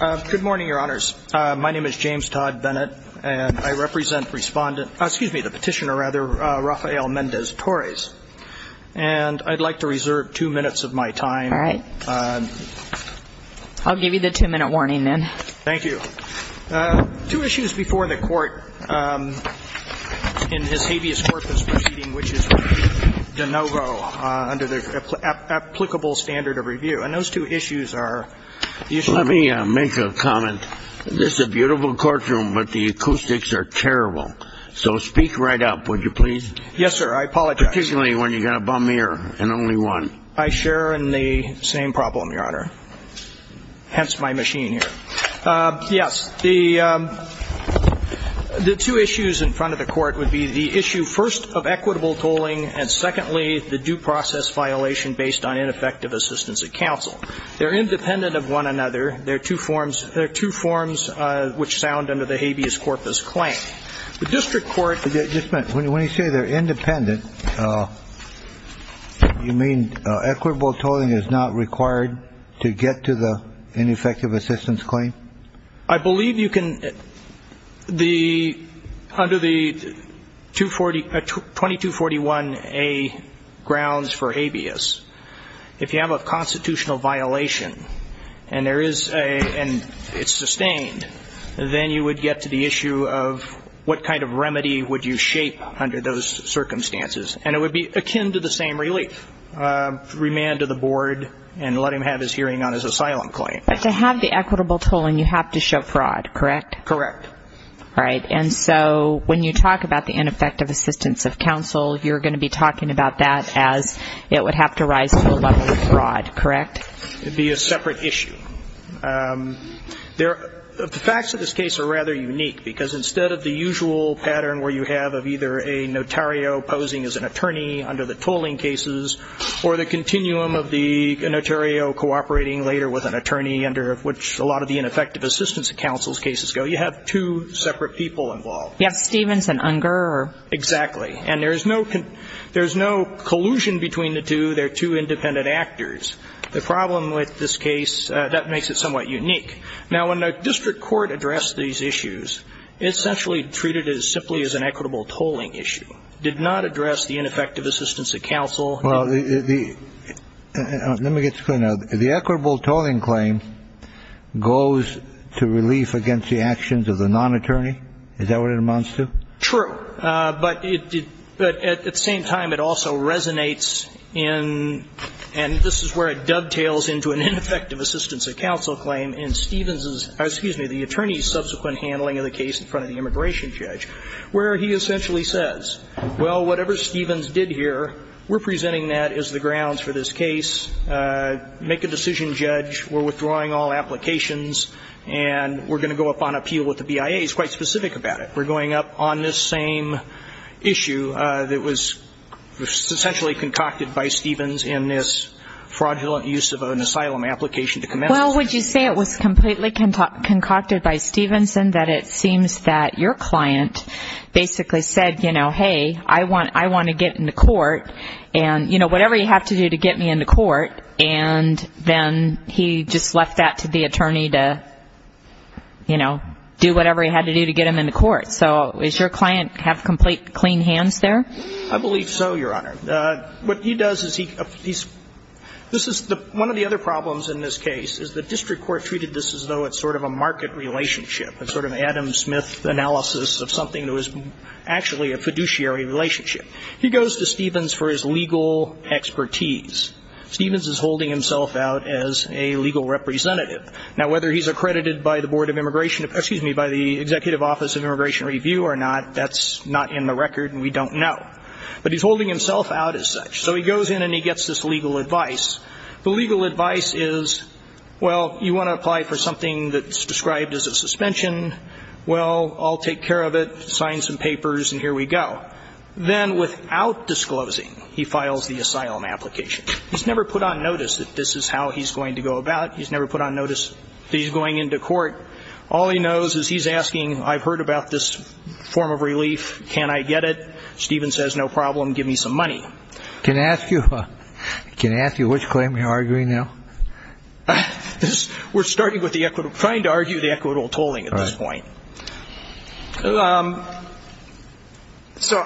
Good morning, Your Honors. My name is James Todd Bennett, and I represent Respondent – excuse me, the Petitioner, rather, Rafael Mendez-Torres. And I'd like to reserve two minutes of my time. All right. I'll give you the two-minute warning, then. Thank you. Two issues before the Court in this habeas corpus proceeding, which is de novo, under the applicable standard of review. And those two issues are the issues Let me make a comment. This is a beautiful courtroom, but the acoustics are terrible. So speak right up, would you please? Yes, sir. I apologize. Particularly when you've got a bum ear, and only one. I share in the same problem, Your Honor. Hence my machine here. Yes. The two issues in front of the Court would be the issue, first, of equitable tolling, and secondly, the due process violation based on ineffective assistance at counsel. They're independent of one another. There are two forms – there are two forms which sound under the habeas corpus claim. The district court – Just a minute. When you say they're independent, you mean equitable tolling is not required to get to the ineffective assistance claim? I believe you can – the – under the 2241A grounds for habeas, if you have a constitutional violation and there is a – and it's sustained, then you would get to the issue of what kind of remedy would you shape under those circumstances. And it would be akin to the same relief, remand to the board and let him have his hearing on his asylum claim. But to have the equitable tolling, you have to show fraud, correct? Correct. All right. And so when you talk about the ineffective assistance of counsel, you're going to be talking about that as it would have to rise to the level of fraud, correct? It would be a separate issue. The facts of this case are rather unique, because instead of the usual pattern where you have of either a notario posing as an attorney under the of which a lot of the ineffective assistance of counsel's cases go, you have two separate people involved. You have Stevens and Unger or – Exactly. And there is no – there is no collusion between the two. They're two independent actors. The problem with this case, that makes it somewhat unique. Now, when the district court addressed these issues, it essentially treated it as simply as an equitable tolling issue, did not address the ineffective assistance of counsel. Well, the – let me get this clear now. The equitable tolling claim goes to relief against the actions of the non-attorney? Is that what it amounts to? True. But it – but at the same time, it also resonates in – and this is where it dovetails into an ineffective assistance of counsel claim in Stevens's – excuse me, the attorney's subsequent handling of the case in front of the immigration judge, where he essentially says, well, whatever Stevens did here, we're presenting that as the grounds for this case. Make a decision, judge. We're withdrawing all applications. And we're going to go up on appeal with the BIA. He's quite specific about it. We're going up on this same issue that was essentially concocted by Stevens in this fraudulent use of an asylum application to commence. Well, would you say it was completely concocted by Stevens and that it seems that your client, your client basically said, you know, hey, I want – I want to get in the court and, you know, whatever you have to do to get me in the court, and then he just left that to the attorney to, you know, do whatever he had to do to get him in the court? So does your client have complete clean hands there? I believe so, Your Honor. What he does is he – this is the – one of the other problems in this case is the district court treated this as though it's sort of a market relationship. It's sort of an Adam Smith analysis of something that was actually a fiduciary relationship. He goes to Stevens for his legal expertise. Stevens is holding himself out as a legal representative. Now, whether he's accredited by the Board of Immigration – excuse me – by the Executive Office of Immigration Review or not, that's not in the record and we don't know. But he's holding himself out as such. So he goes in and he gets this legal advice. The legal advice is, well, you want to apply for something that's described as a suspension. Well, I'll take care of it. Sign some papers and here we go. Then, without disclosing, he files the asylum application. He's never put on notice that this is how he's going to go about it. He's never put on notice that he's going into court. All he knows is he's asking, I've heard about this form of relief. Can I get it? Stevens says, no problem. Give me some money. Can I ask you – can I ask you which claim you're arguing now? We're starting with the equitable – trying to argue the equitable tolling at this point. So,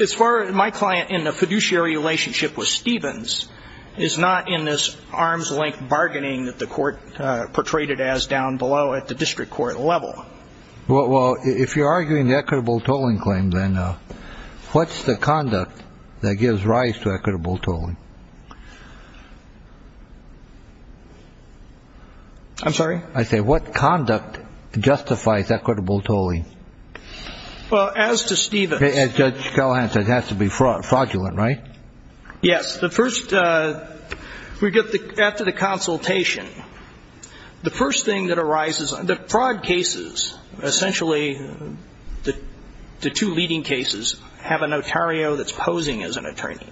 as far as my client in the fiduciary relationship with Stevens is not in this arm's length bargaining that the court portrayed it as down below at the district court level. Well, if you're arguing the equitable tolling claim, then what's the conduct that gives rise to equitable tolling? I'm sorry? I said, what conduct justifies equitable tolling? Well, as to Stevens – As Judge Callahan said, it has to be fraudulent, right? Yes. The first – we get the – after the consultation, the first thing that arises – the fraud cases, essentially, the two leading cases, have a notario that's posing as an attorney.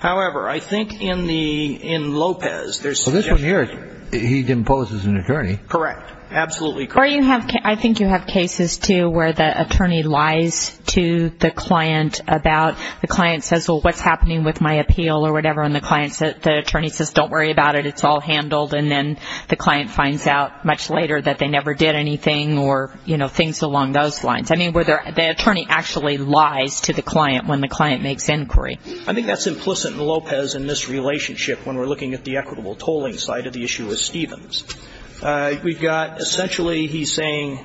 However, I think in the – in Lopez, there's – Well, this one here, he imposes an attorney. Correct. Absolutely correct. Or you have – I think you have cases, too, where the attorney lies to the client about – the client says, well, what's happening with my appeal or whatever, and the client – the attorney says, don't worry about it, it's all handled, and then the client finds out much later that they never did anything or, you know, things along those lines. I mean, where the attorney actually lies to the client when the client makes inquiry. I think that's implicit in Lopez in this relationship when we're looking at the equitable tolling side of the issue with Stevens. We've got – essentially, he's saying,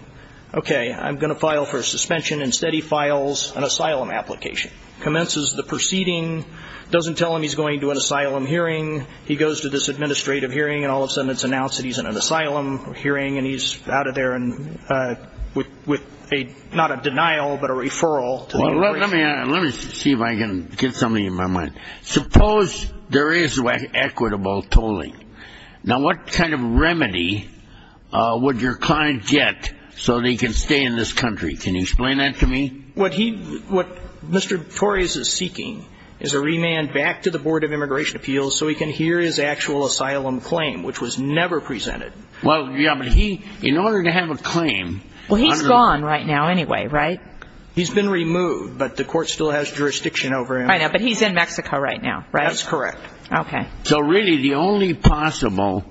okay, I'm going to file for suspension. Instead, he files an asylum application, commences the proceeding, doesn't tell him he's going to an asylum hearing. He goes to this administrative hearing, and all of a sudden, it's announced that he's in an asylum hearing, and he's out of there with not a denial, but a referral. Well, let me see if I can get something in my mind. Suppose there is equitable tolling. Now, what kind of remedy would your client get so that he can stay in this country? Can you explain that to me? What he – what Mr. Torres is seeking is a remand back to the Board of Immigration Appeals so he can hear his actual asylum claim, which was never presented. Well, yeah, but he – in order to have a claim – Well, he's gone right now anyway, right? He's been removed, but the court still has jurisdiction over him. I know, but he's in Mexico right now, right? That's correct. Okay. So really, the only possible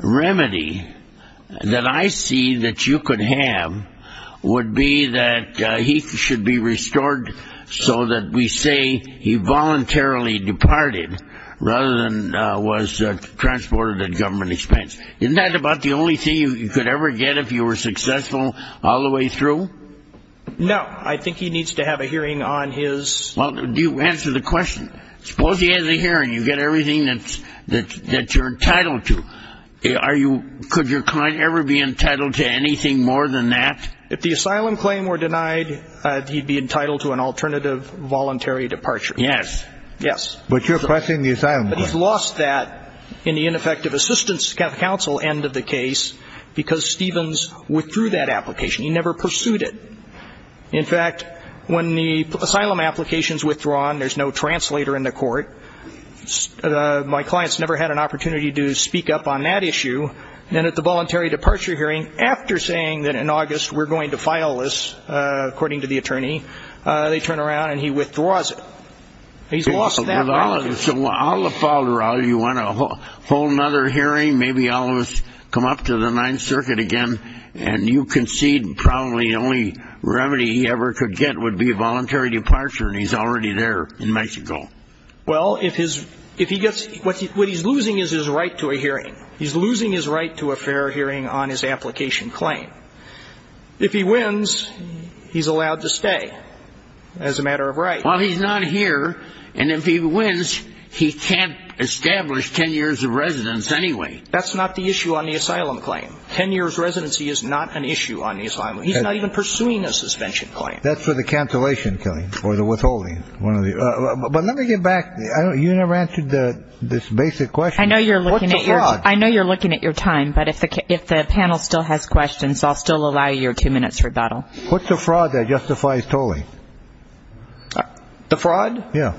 remedy that I see that you could have would be that he should be restored so that we say he voluntarily departed rather than was transported at government expense. Isn't that about the only thing you could ever get if you were successful all the way through? No. I think he needs to have a hearing on his – Well, answer the question. Suppose he has a hearing. You get everything that you're entitled to. Are you – could your client ever be entitled to anything more than that? If the asylum claim were denied, he'd be entitled to an alternative voluntary departure. Yes. Yes. But you're pressing the asylum claim. But he's lost that in the ineffective assistance counsel end of the case because Stevens withdrew that application. He never pursued it. In fact, when the asylum application's withdrawn, there's no translator in the court. My client's never had an opportunity to speak up on that issue. Then at the voluntary departure hearing, after saying that in August we're going to file this, according to the attorney, they turn around and he withdraws it. He's lost that right. So all of a sudden you want to hold another hearing, maybe all of us come up to the Ninth Circuit again, and you concede probably the only remedy he ever could get would be a voluntary departure, and he's already there in Mexico. Well, if he gets – what he's losing is his right to a hearing. He's losing his right to a fair hearing on his application claim. If he wins, he's allowed to stay as a matter of right. Well, he's not here, and if he wins, he can't establish ten years of residence anyway. That's not the issue on the asylum claim. Ten years residency is not an issue on the asylum. He's not even pursuing a suspension claim. That's for the cancellation claim or the withholding. But let me get back. You never answered this basic question. I know you're looking at your time, but if the panel still has questions, I'll still allow your two minutes rebuttal. What's the fraud that justifies tolling? The fraud? Yeah.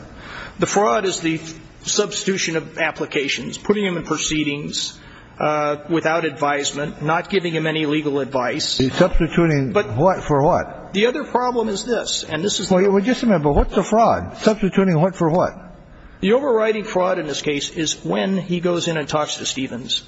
The fraud is the substitution of applications, putting him in proceedings without advisement, not giving him any legal advice. Substituting what for what? The other problem is this. Well, just remember, what's a fraud? Substituting what for what? The overriding fraud in this case is when he goes in and talks to Stevens.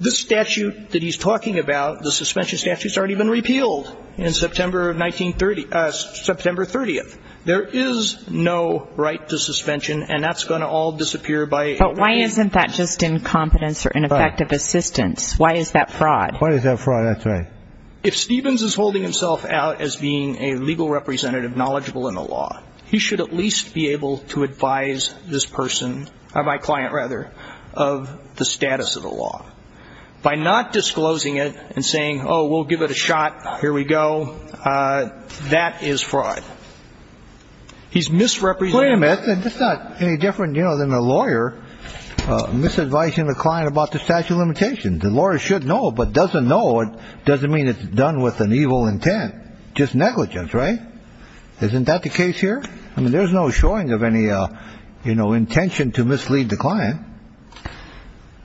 This statute that he's talking about, the suspension statute, has already been repealed on September 30th. There is no right to suspension, and that's going to all disappear by 1930. But why isn't that just incompetence or ineffective assistance? Why is that fraud? Why is that fraud? That's right. If Stevens is holding himself out as being a legal representative knowledgeable in the law, he should at least be able to advise this person, my client rather, of the status of the law. By not disclosing it and saying, oh, we'll give it a shot, here we go, that is fraud. He's misrepresenting. It's not any different than a lawyer misadvising the client about the statute of limitations. The lawyer should know, but doesn't know doesn't mean it's done with an evil intent. Just negligence, right? Isn't that the case here? I mean, there's no showing of any, you know, intention to mislead the client.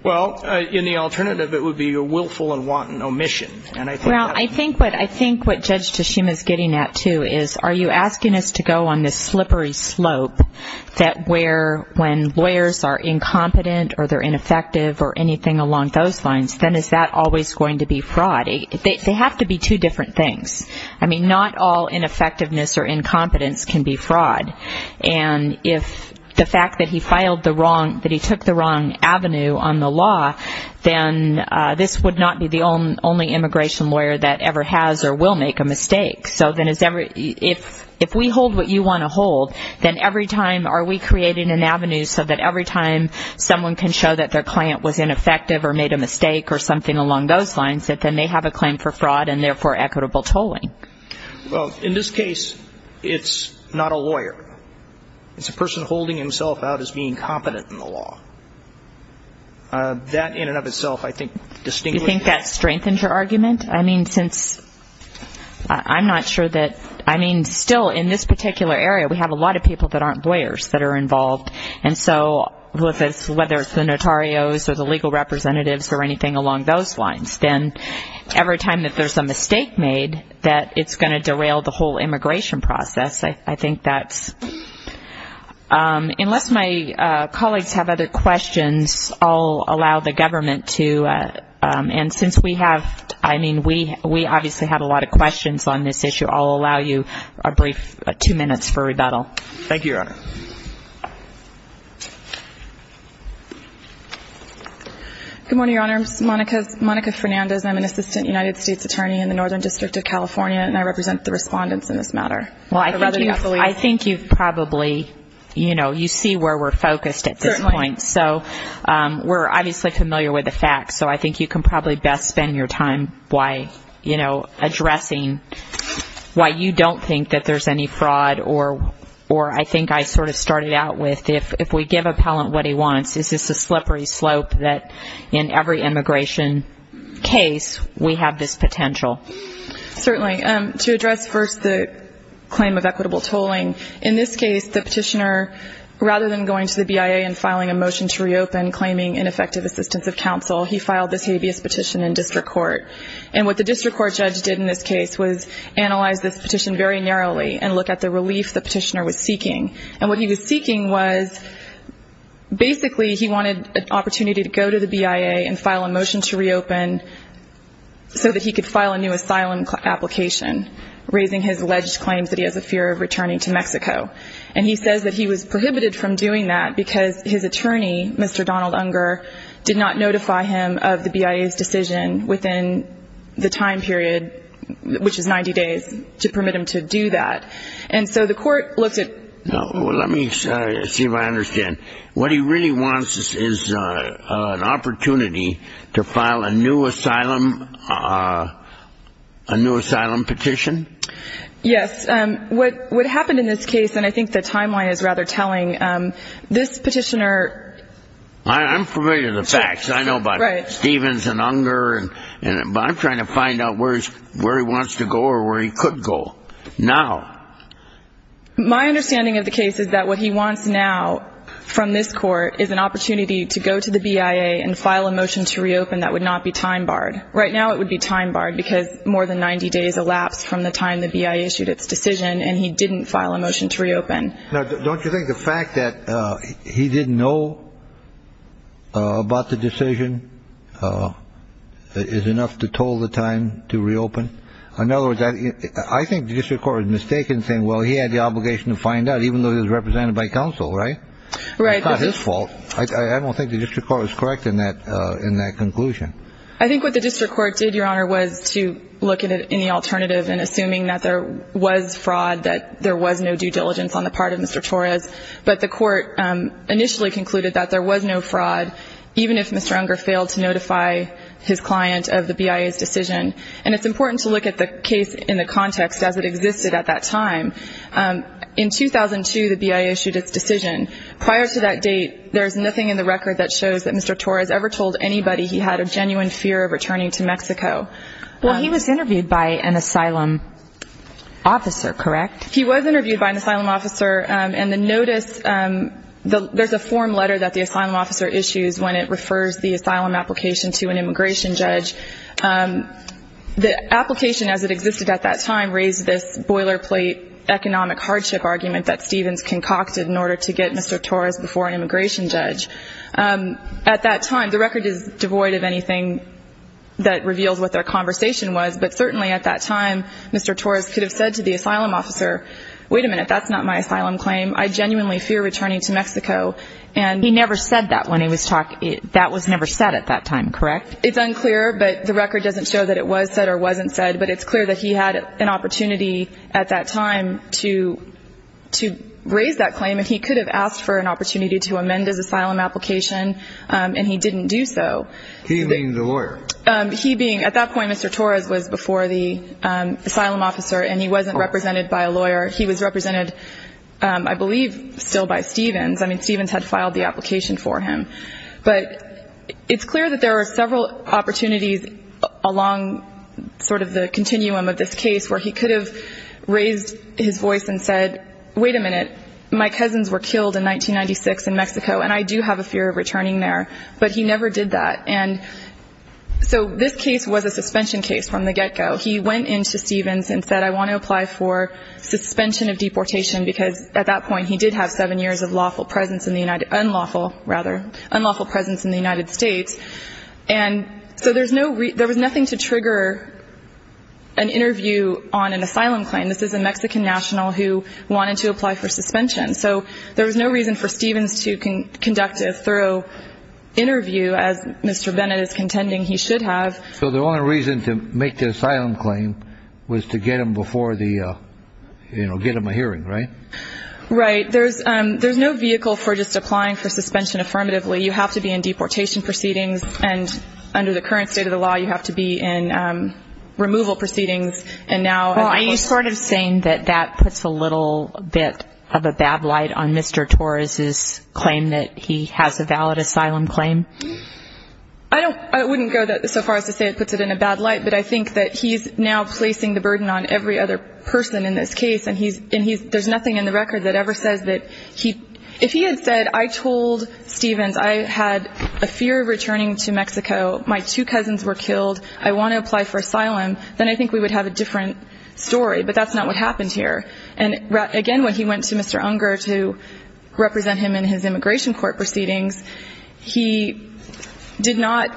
Well, in the alternative, it would be a willful and wanton omission. Well, I think what Judge Tashima is getting at, too, is are you asking us to go on this slippery slope that where when lawyers are incompetent or they're ineffective or anything along those lines, then is that always going to be fraud? They have to be two different things. I mean, not all ineffectiveness or incompetence can be fraud. And if the fact that he took the wrong avenue on the law, then this would not be the only immigration lawyer that ever has or will make a mistake. So if we hold what you want to hold, then every time are we creating an avenue so that every time someone can show that their client was ineffective or made a mistake or something along those lines, then they have a claim for fraud and, therefore, equitable tolling. Well, in this case, it's not a lawyer. It's a person holding himself out as being competent in the law. That in and of itself, I think, distinguishes. You think that strengthens your argument? I mean, since I'm not sure that, I mean, still in this particular area, we have a lot of people that aren't lawyers that are involved. And so whether it's the notarios or the legal representatives or anything along those lines, then every time that there's a mistake made, that it's going to derail the whole immigration process. I think that's unless my colleagues have other questions, I'll allow the government to, and since we have, I mean, we obviously have a lot of questions on this issue, I'll allow you a brief two minutes for rebuttal. Thank you, Your Honor. Good morning, Your Honor. I'm Monica Fernandez. I'm an assistant United States attorney in the Northern District of California, and I represent the respondents in this matter. Well, I think you've probably, you know, you see where we're focused at this point. Certainly. So we're obviously familiar with the facts, so I think you can probably best spend your time addressing why you don't think that there's any fraud or I think I sort of started out with, if we give appellant what he wants, is this a slippery slope that in every immigration case we have this potential? Certainly. To address first the claim of equitable tolling, in this case the petitioner, rather than going to the BIA and filing a motion to reopen claiming ineffective assistance of counsel, he filed this habeas petition in district court. And what the district court judge did in this case was analyze this petition very narrowly and look at the relief the petitioner was seeking. And what he was seeking was basically he wanted an opportunity to go to the BIA and file a motion to reopen so that he could file a new asylum application, raising his alleged claims that he has a fear of returning to Mexico. And he says that he was prohibited from doing that because his attorney, Mr. Donald Unger, did not notify him of the BIA's decision within the time period, which is 90 days, to permit him to do that. And so the court looked at. Let me see if I understand. What he really wants is an opportunity to file a new asylum petition? Yes. What happened in this case, and I think the timeline is rather telling, this petitioner. I'm familiar with the facts. I know about Stevens and Unger. But I'm trying to find out where he wants to go or where he could go now. My understanding of the case is that what he wants now from this court is an opportunity to go to the BIA and file a motion to reopen that would not be time barred. Right now it would be time barred because more than 90 days elapsed from the time the BIA issued its decision, Now, don't you think the fact that he didn't know about the decision is enough to toll the time to reopen? In other words, I think the district court was mistaken in saying, well, he had the obligation to find out, even though he was represented by counsel, right? Right. It's not his fault. I don't think the district court was correct in that conclusion. I think what the district court did, Your Honor, was to look at any alternative and assuming that there was fraud, that there was no due diligence on the part of Mr. Torres. But the court initially concluded that there was no fraud, even if Mr. Unger failed to notify his client of the BIA's decision. And it's important to look at the case in the context as it existed at that time. In 2002, the BIA issued its decision. Prior to that date, there's nothing in the record that shows that Mr. Torres ever told anybody he had a genuine fear of returning to Mexico. Well, he was interviewed by an asylum officer, correct? He was interviewed by an asylum officer. And the notice, there's a form letter that the asylum officer issues when it refers the asylum application to an immigration judge. The application as it existed at that time raised this boilerplate economic hardship argument that Stevens concocted in order to get Mr. Torres before an immigration judge. At that time, the record is devoid of anything that reveals what their conversation was. But certainly at that time, Mr. Torres could have said to the asylum officer, wait a minute, that's not my asylum claim. I genuinely fear returning to Mexico. And he never said that when he was talking. That was never said at that time, correct? It's unclear, but the record doesn't show that it was said or wasn't said. But it's clear that he had an opportunity at that time to raise that claim. And he could have asked for an opportunity to amend his asylum application, and he didn't do so. He being the lawyer? He being. At that point, Mr. Torres was before the asylum officer, and he wasn't represented by a lawyer. He was represented, I believe, still by Stevens. I mean, Stevens had filed the application for him. But it's clear that there were several opportunities along sort of the continuum of this case where he could have raised his voice and said, wait a minute, my cousins were killed in 1996 in Mexico, and I do have a fear of returning there. But he never did that. And so this case was a suspension case from the get-go. He went in to Stevens and said, I want to apply for suspension of deportation, because at that point he did have seven years of unlawful presence in the United States. And so there was nothing to trigger an interview on an asylum claim. This is a Mexican national who wanted to apply for suspension. So there was no reason for Stevens to conduct a thorough interview, as Mr. Bennett is contending he should have. So the only reason to make the asylum claim was to get him before the, you know, get him a hearing, right? Right. There's no vehicle for just applying for suspension affirmatively. You have to be in deportation proceedings. And under the current state of the law, you have to be in removal proceedings. Are you sort of saying that that puts a little bit of a bad light on Mr. Torres's claim that he has a valid asylum claim? I wouldn't go so far as to say it puts it in a bad light, but I think that he's now placing the burden on every other person in this case, and there's nothing in the record that ever says that he – if he had said, I told Stevens I had a fear of returning to Mexico, my two cousins were killed, I want to apply for asylum, then I think we would have a different story, but that's not what happened here. And, again, when he went to Mr. Unger to represent him in his immigration court proceedings, he did not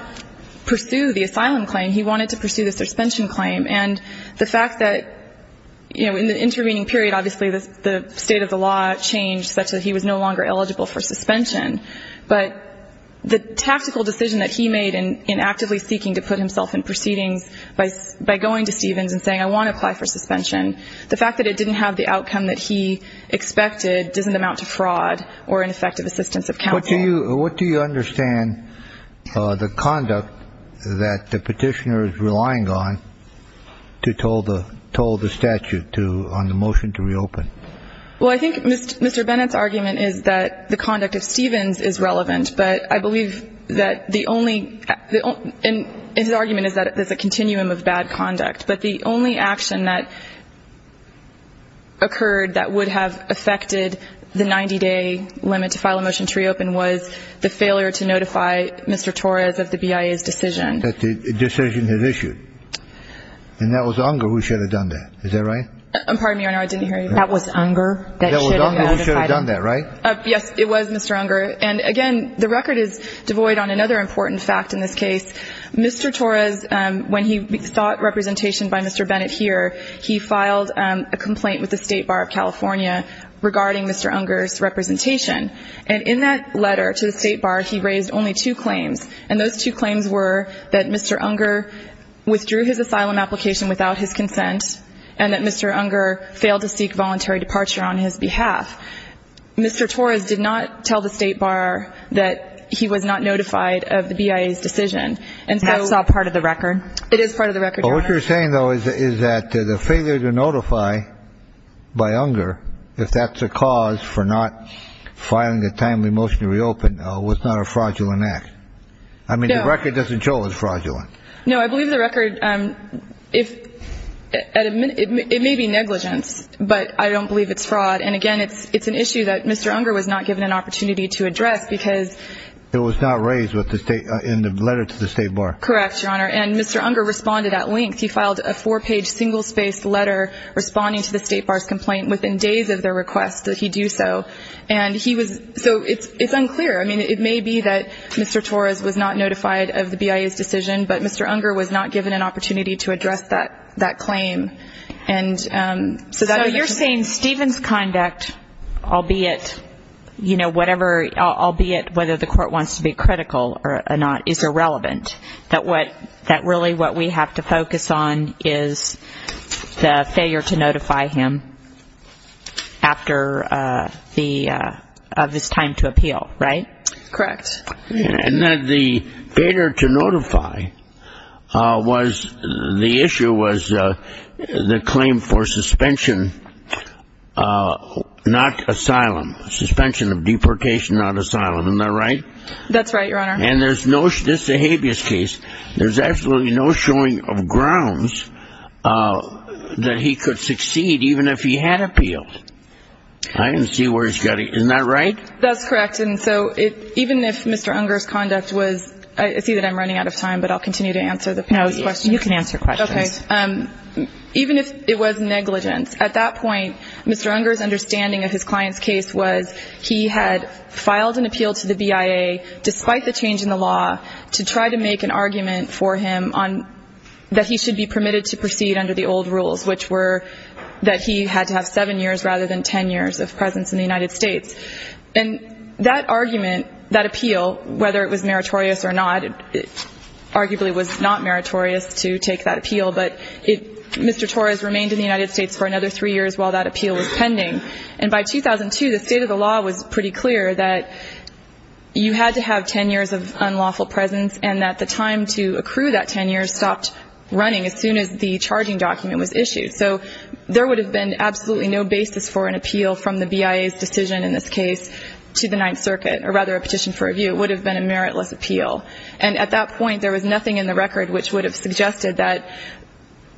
pursue the asylum claim. He wanted to pursue the suspension claim. And the fact that, you know, in the intervening period, obviously, the state of the law changed such that he was no longer eligible for suspension. But the tactical decision that he made in actively seeking to put himself in proceedings by going to Stevens and saying I want to apply for suspension, the fact that it didn't have the outcome that he expected doesn't amount to fraud or ineffective assistance of counsel. What do you understand the conduct that the petitioner is relying on to toll the statute on the motion to reopen? Well, I think Mr. Bennett's argument is that the conduct of Stevens is relevant, but I believe that the only – and his argument is that there's a continuum of bad conduct, but the only action that occurred that would have affected the 90-day limit to file a motion to reopen was the failure to notify Mr. Torres of the BIA's decision. That the decision had issued. And that was Unger who should have done that. Is that right? Pardon me, Your Honor, I didn't hear you. That was Unger that should have notified him. That was Unger who should have done that, right? Yes, it was Mr. Unger. And, again, the record is devoid on another important fact in this case. Mr. Torres, when he sought representation by Mr. Bennett here, he filed a complaint with the State Bar of California regarding Mr. Unger's representation. And in that letter to the State Bar, he raised only two claims. And those two claims were that Mr. Unger withdrew his asylum application without his consent and that Mr. Unger failed to seek voluntary departure on his behalf. Mr. Torres did not tell the State Bar that he was not notified of the BIA's decision. That's not part of the record. It is part of the record, Your Honor. What you're saying, though, is that the failure to notify by Unger, if that's a cause for not filing a timely motion to reopen, was not a fraudulent act. I mean, the record doesn't show it was fraudulent. No, I believe the record, it may be negligence, but I don't believe it's fraud. And, again, it's an issue that Mr. Unger was not given an opportunity to address because ---- It was not raised in the letter to the State Bar. Correct, Your Honor. And Mr. Unger responded at length. He filed a four-page, single-spaced letter responding to the State Bar's complaint within days of their request that he do so. And he was ---- So it's unclear. I mean, it may be that Mr. Torres was not notified of the BIA's decision, but Mr. Unger was not given an opportunity to address that claim. And so that ---- So you're saying Stephen's conduct, albeit, you know, whatever, albeit whether the court wants to be critical or not, is irrelevant, that what ---- that really what we have to focus on is the failure to notify him after the ---- of his time to appeal, right? Correct. And that the failure to notify was ---- the issue was the claim for suspension, not asylum, suspension of deportation, not asylum. That's right, Your Honor. And there's no ---- this is a habeas case. There's absolutely no showing of grounds that he could succeed even if he had appealed. I can see where he's getting ---- Isn't that right? That's correct. And so even if Mr. Unger's conduct was ---- I see that I'm running out of time, but I'll continue to answer the panel's questions. No, you can answer questions. Okay. Even if it was negligence, at that point, Mr. Unger's understanding of his client's case was he had filed an appeal to the BIA despite the change in the law to try to make an argument for him on ---- that he should be permitted to proceed under the old rules, which were that he had to have seven years rather than ten years of presence in the United States. And that argument, that appeal, whether it was meritorious or not, it arguably was not meritorious to take that appeal, but it ---- Mr. Torres remained in the United States for another three years while that appeal was pending. And by 2002, the state of the law was pretty clear that you had to have ten years of unlawful presence and that the time to accrue that ten years stopped running as soon as the charging document was issued. So there would have been absolutely no basis for an appeal from the BIA's decision in this case to the Ninth Circuit, or rather a petition for review. It would have been a meritless appeal. And at that point, there was nothing in the record which would have suggested that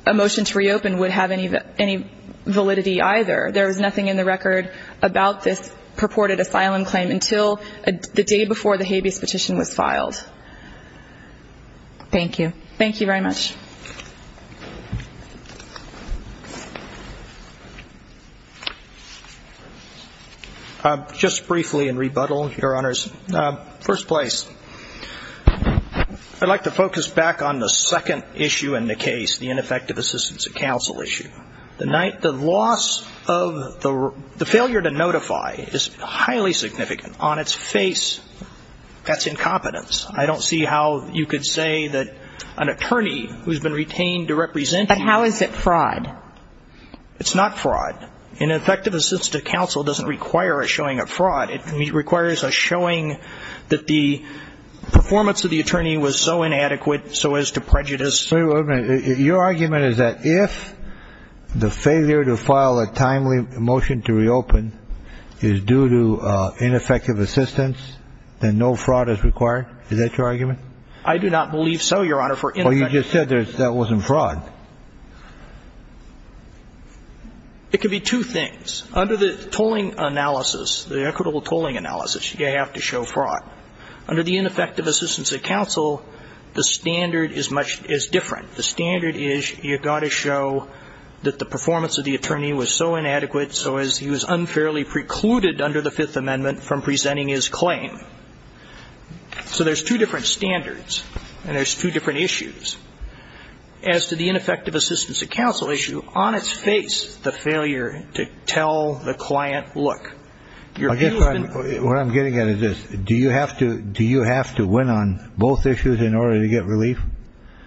a motion to reopen would have any validity either. There was nothing in the record about this purported asylum claim until the day before the habeas petition was filed. Thank you. Thank you very much. Just briefly in rebuttal, Your Honors. First place. I'd like to focus back on the second issue in the case, the ineffective assistance of counsel issue. The loss of the failure to notify is highly significant. On its face, that's incompetence. I don't see how you could say that an attorney who's been retained to represent him. But how is it fraud? It's not fraud. Ineffective assistance to counsel doesn't require a showing of fraud. It requires a showing that the performance of the attorney was so inadequate so as to prejudice. Wait a minute. Your argument is that if the failure to file a timely motion to reopen is due to ineffective assistance, then no fraud is required? Is that your argument? I do not believe so, Your Honor. Well, you just said that that wasn't fraud. It could be two things. Under the tolling analysis, the equitable tolling analysis, you have to show fraud. Under the ineffective assistance of counsel, the standard is different. The standard is you've got to show that the performance of the attorney was so inadequate so as he was unfairly precluded under the Fifth Amendment from presenting his claim. So there's two different standards, and there's two different issues. As to the ineffective assistance of counsel issue, on its face, the failure to tell the client, look, your view on it. What I'm trying to get at is this. Do you have to win on both issues in order to get relief?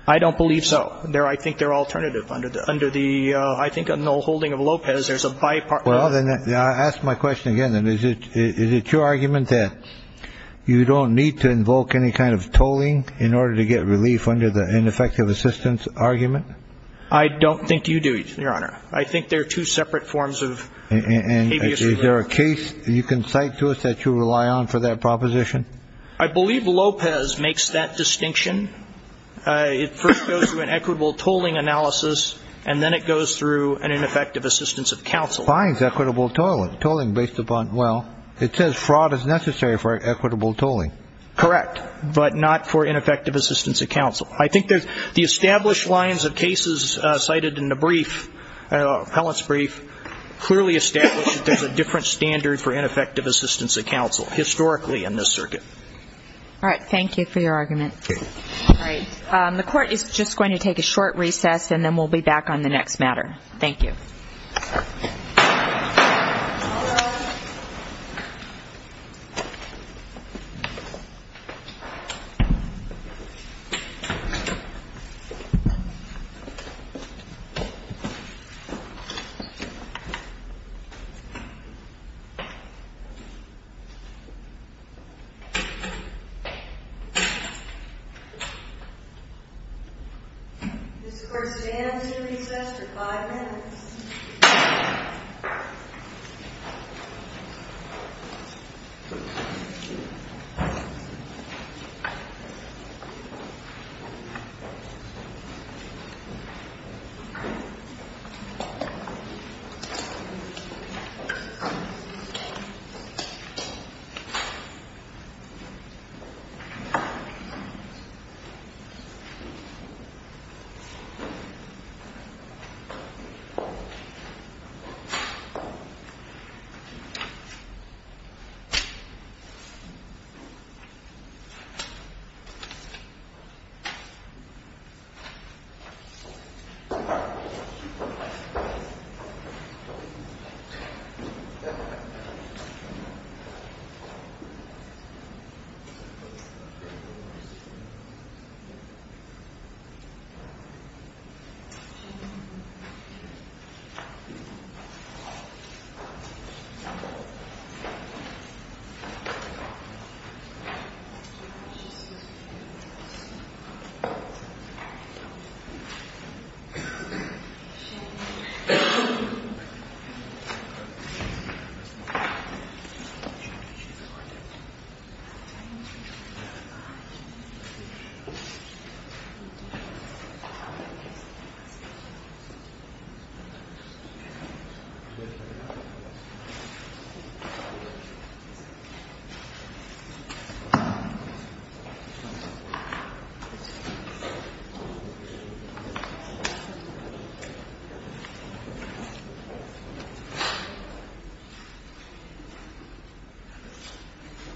I don't believe so. I think they're alternative. Under the, I think, null holding of Lopez, there's a bipartisan. Well, then I'll ask my question again, then. Is it your argument that you don't need to invoke any kind of tolling in order to get relief under the ineffective assistance argument? I don't think you do, Your Honor. I think they're two separate forms of habeas. Is there a case you can cite to us that you rely on for that proposition? I believe Lopez makes that distinction. It first goes to an equitable tolling analysis, and then it goes through an ineffective assistance of counsel. Finds equitable tolling based upon, well, it says fraud is necessary for equitable tolling. I think the established lines of cases cited in the brief, appellant's brief, clearly establish that there's a different standard for ineffective assistance of counsel historically in this circuit. All right. Thank you for your argument. All right. The Court is just going to take a short recess, and then we'll be back on the next matter. Thank you. All rise. This Court stands to recess for five minutes. Five minutes. Five minutes. Five minutes. Five minutes. Five minutes. Five minutes. Five minutes. All rise.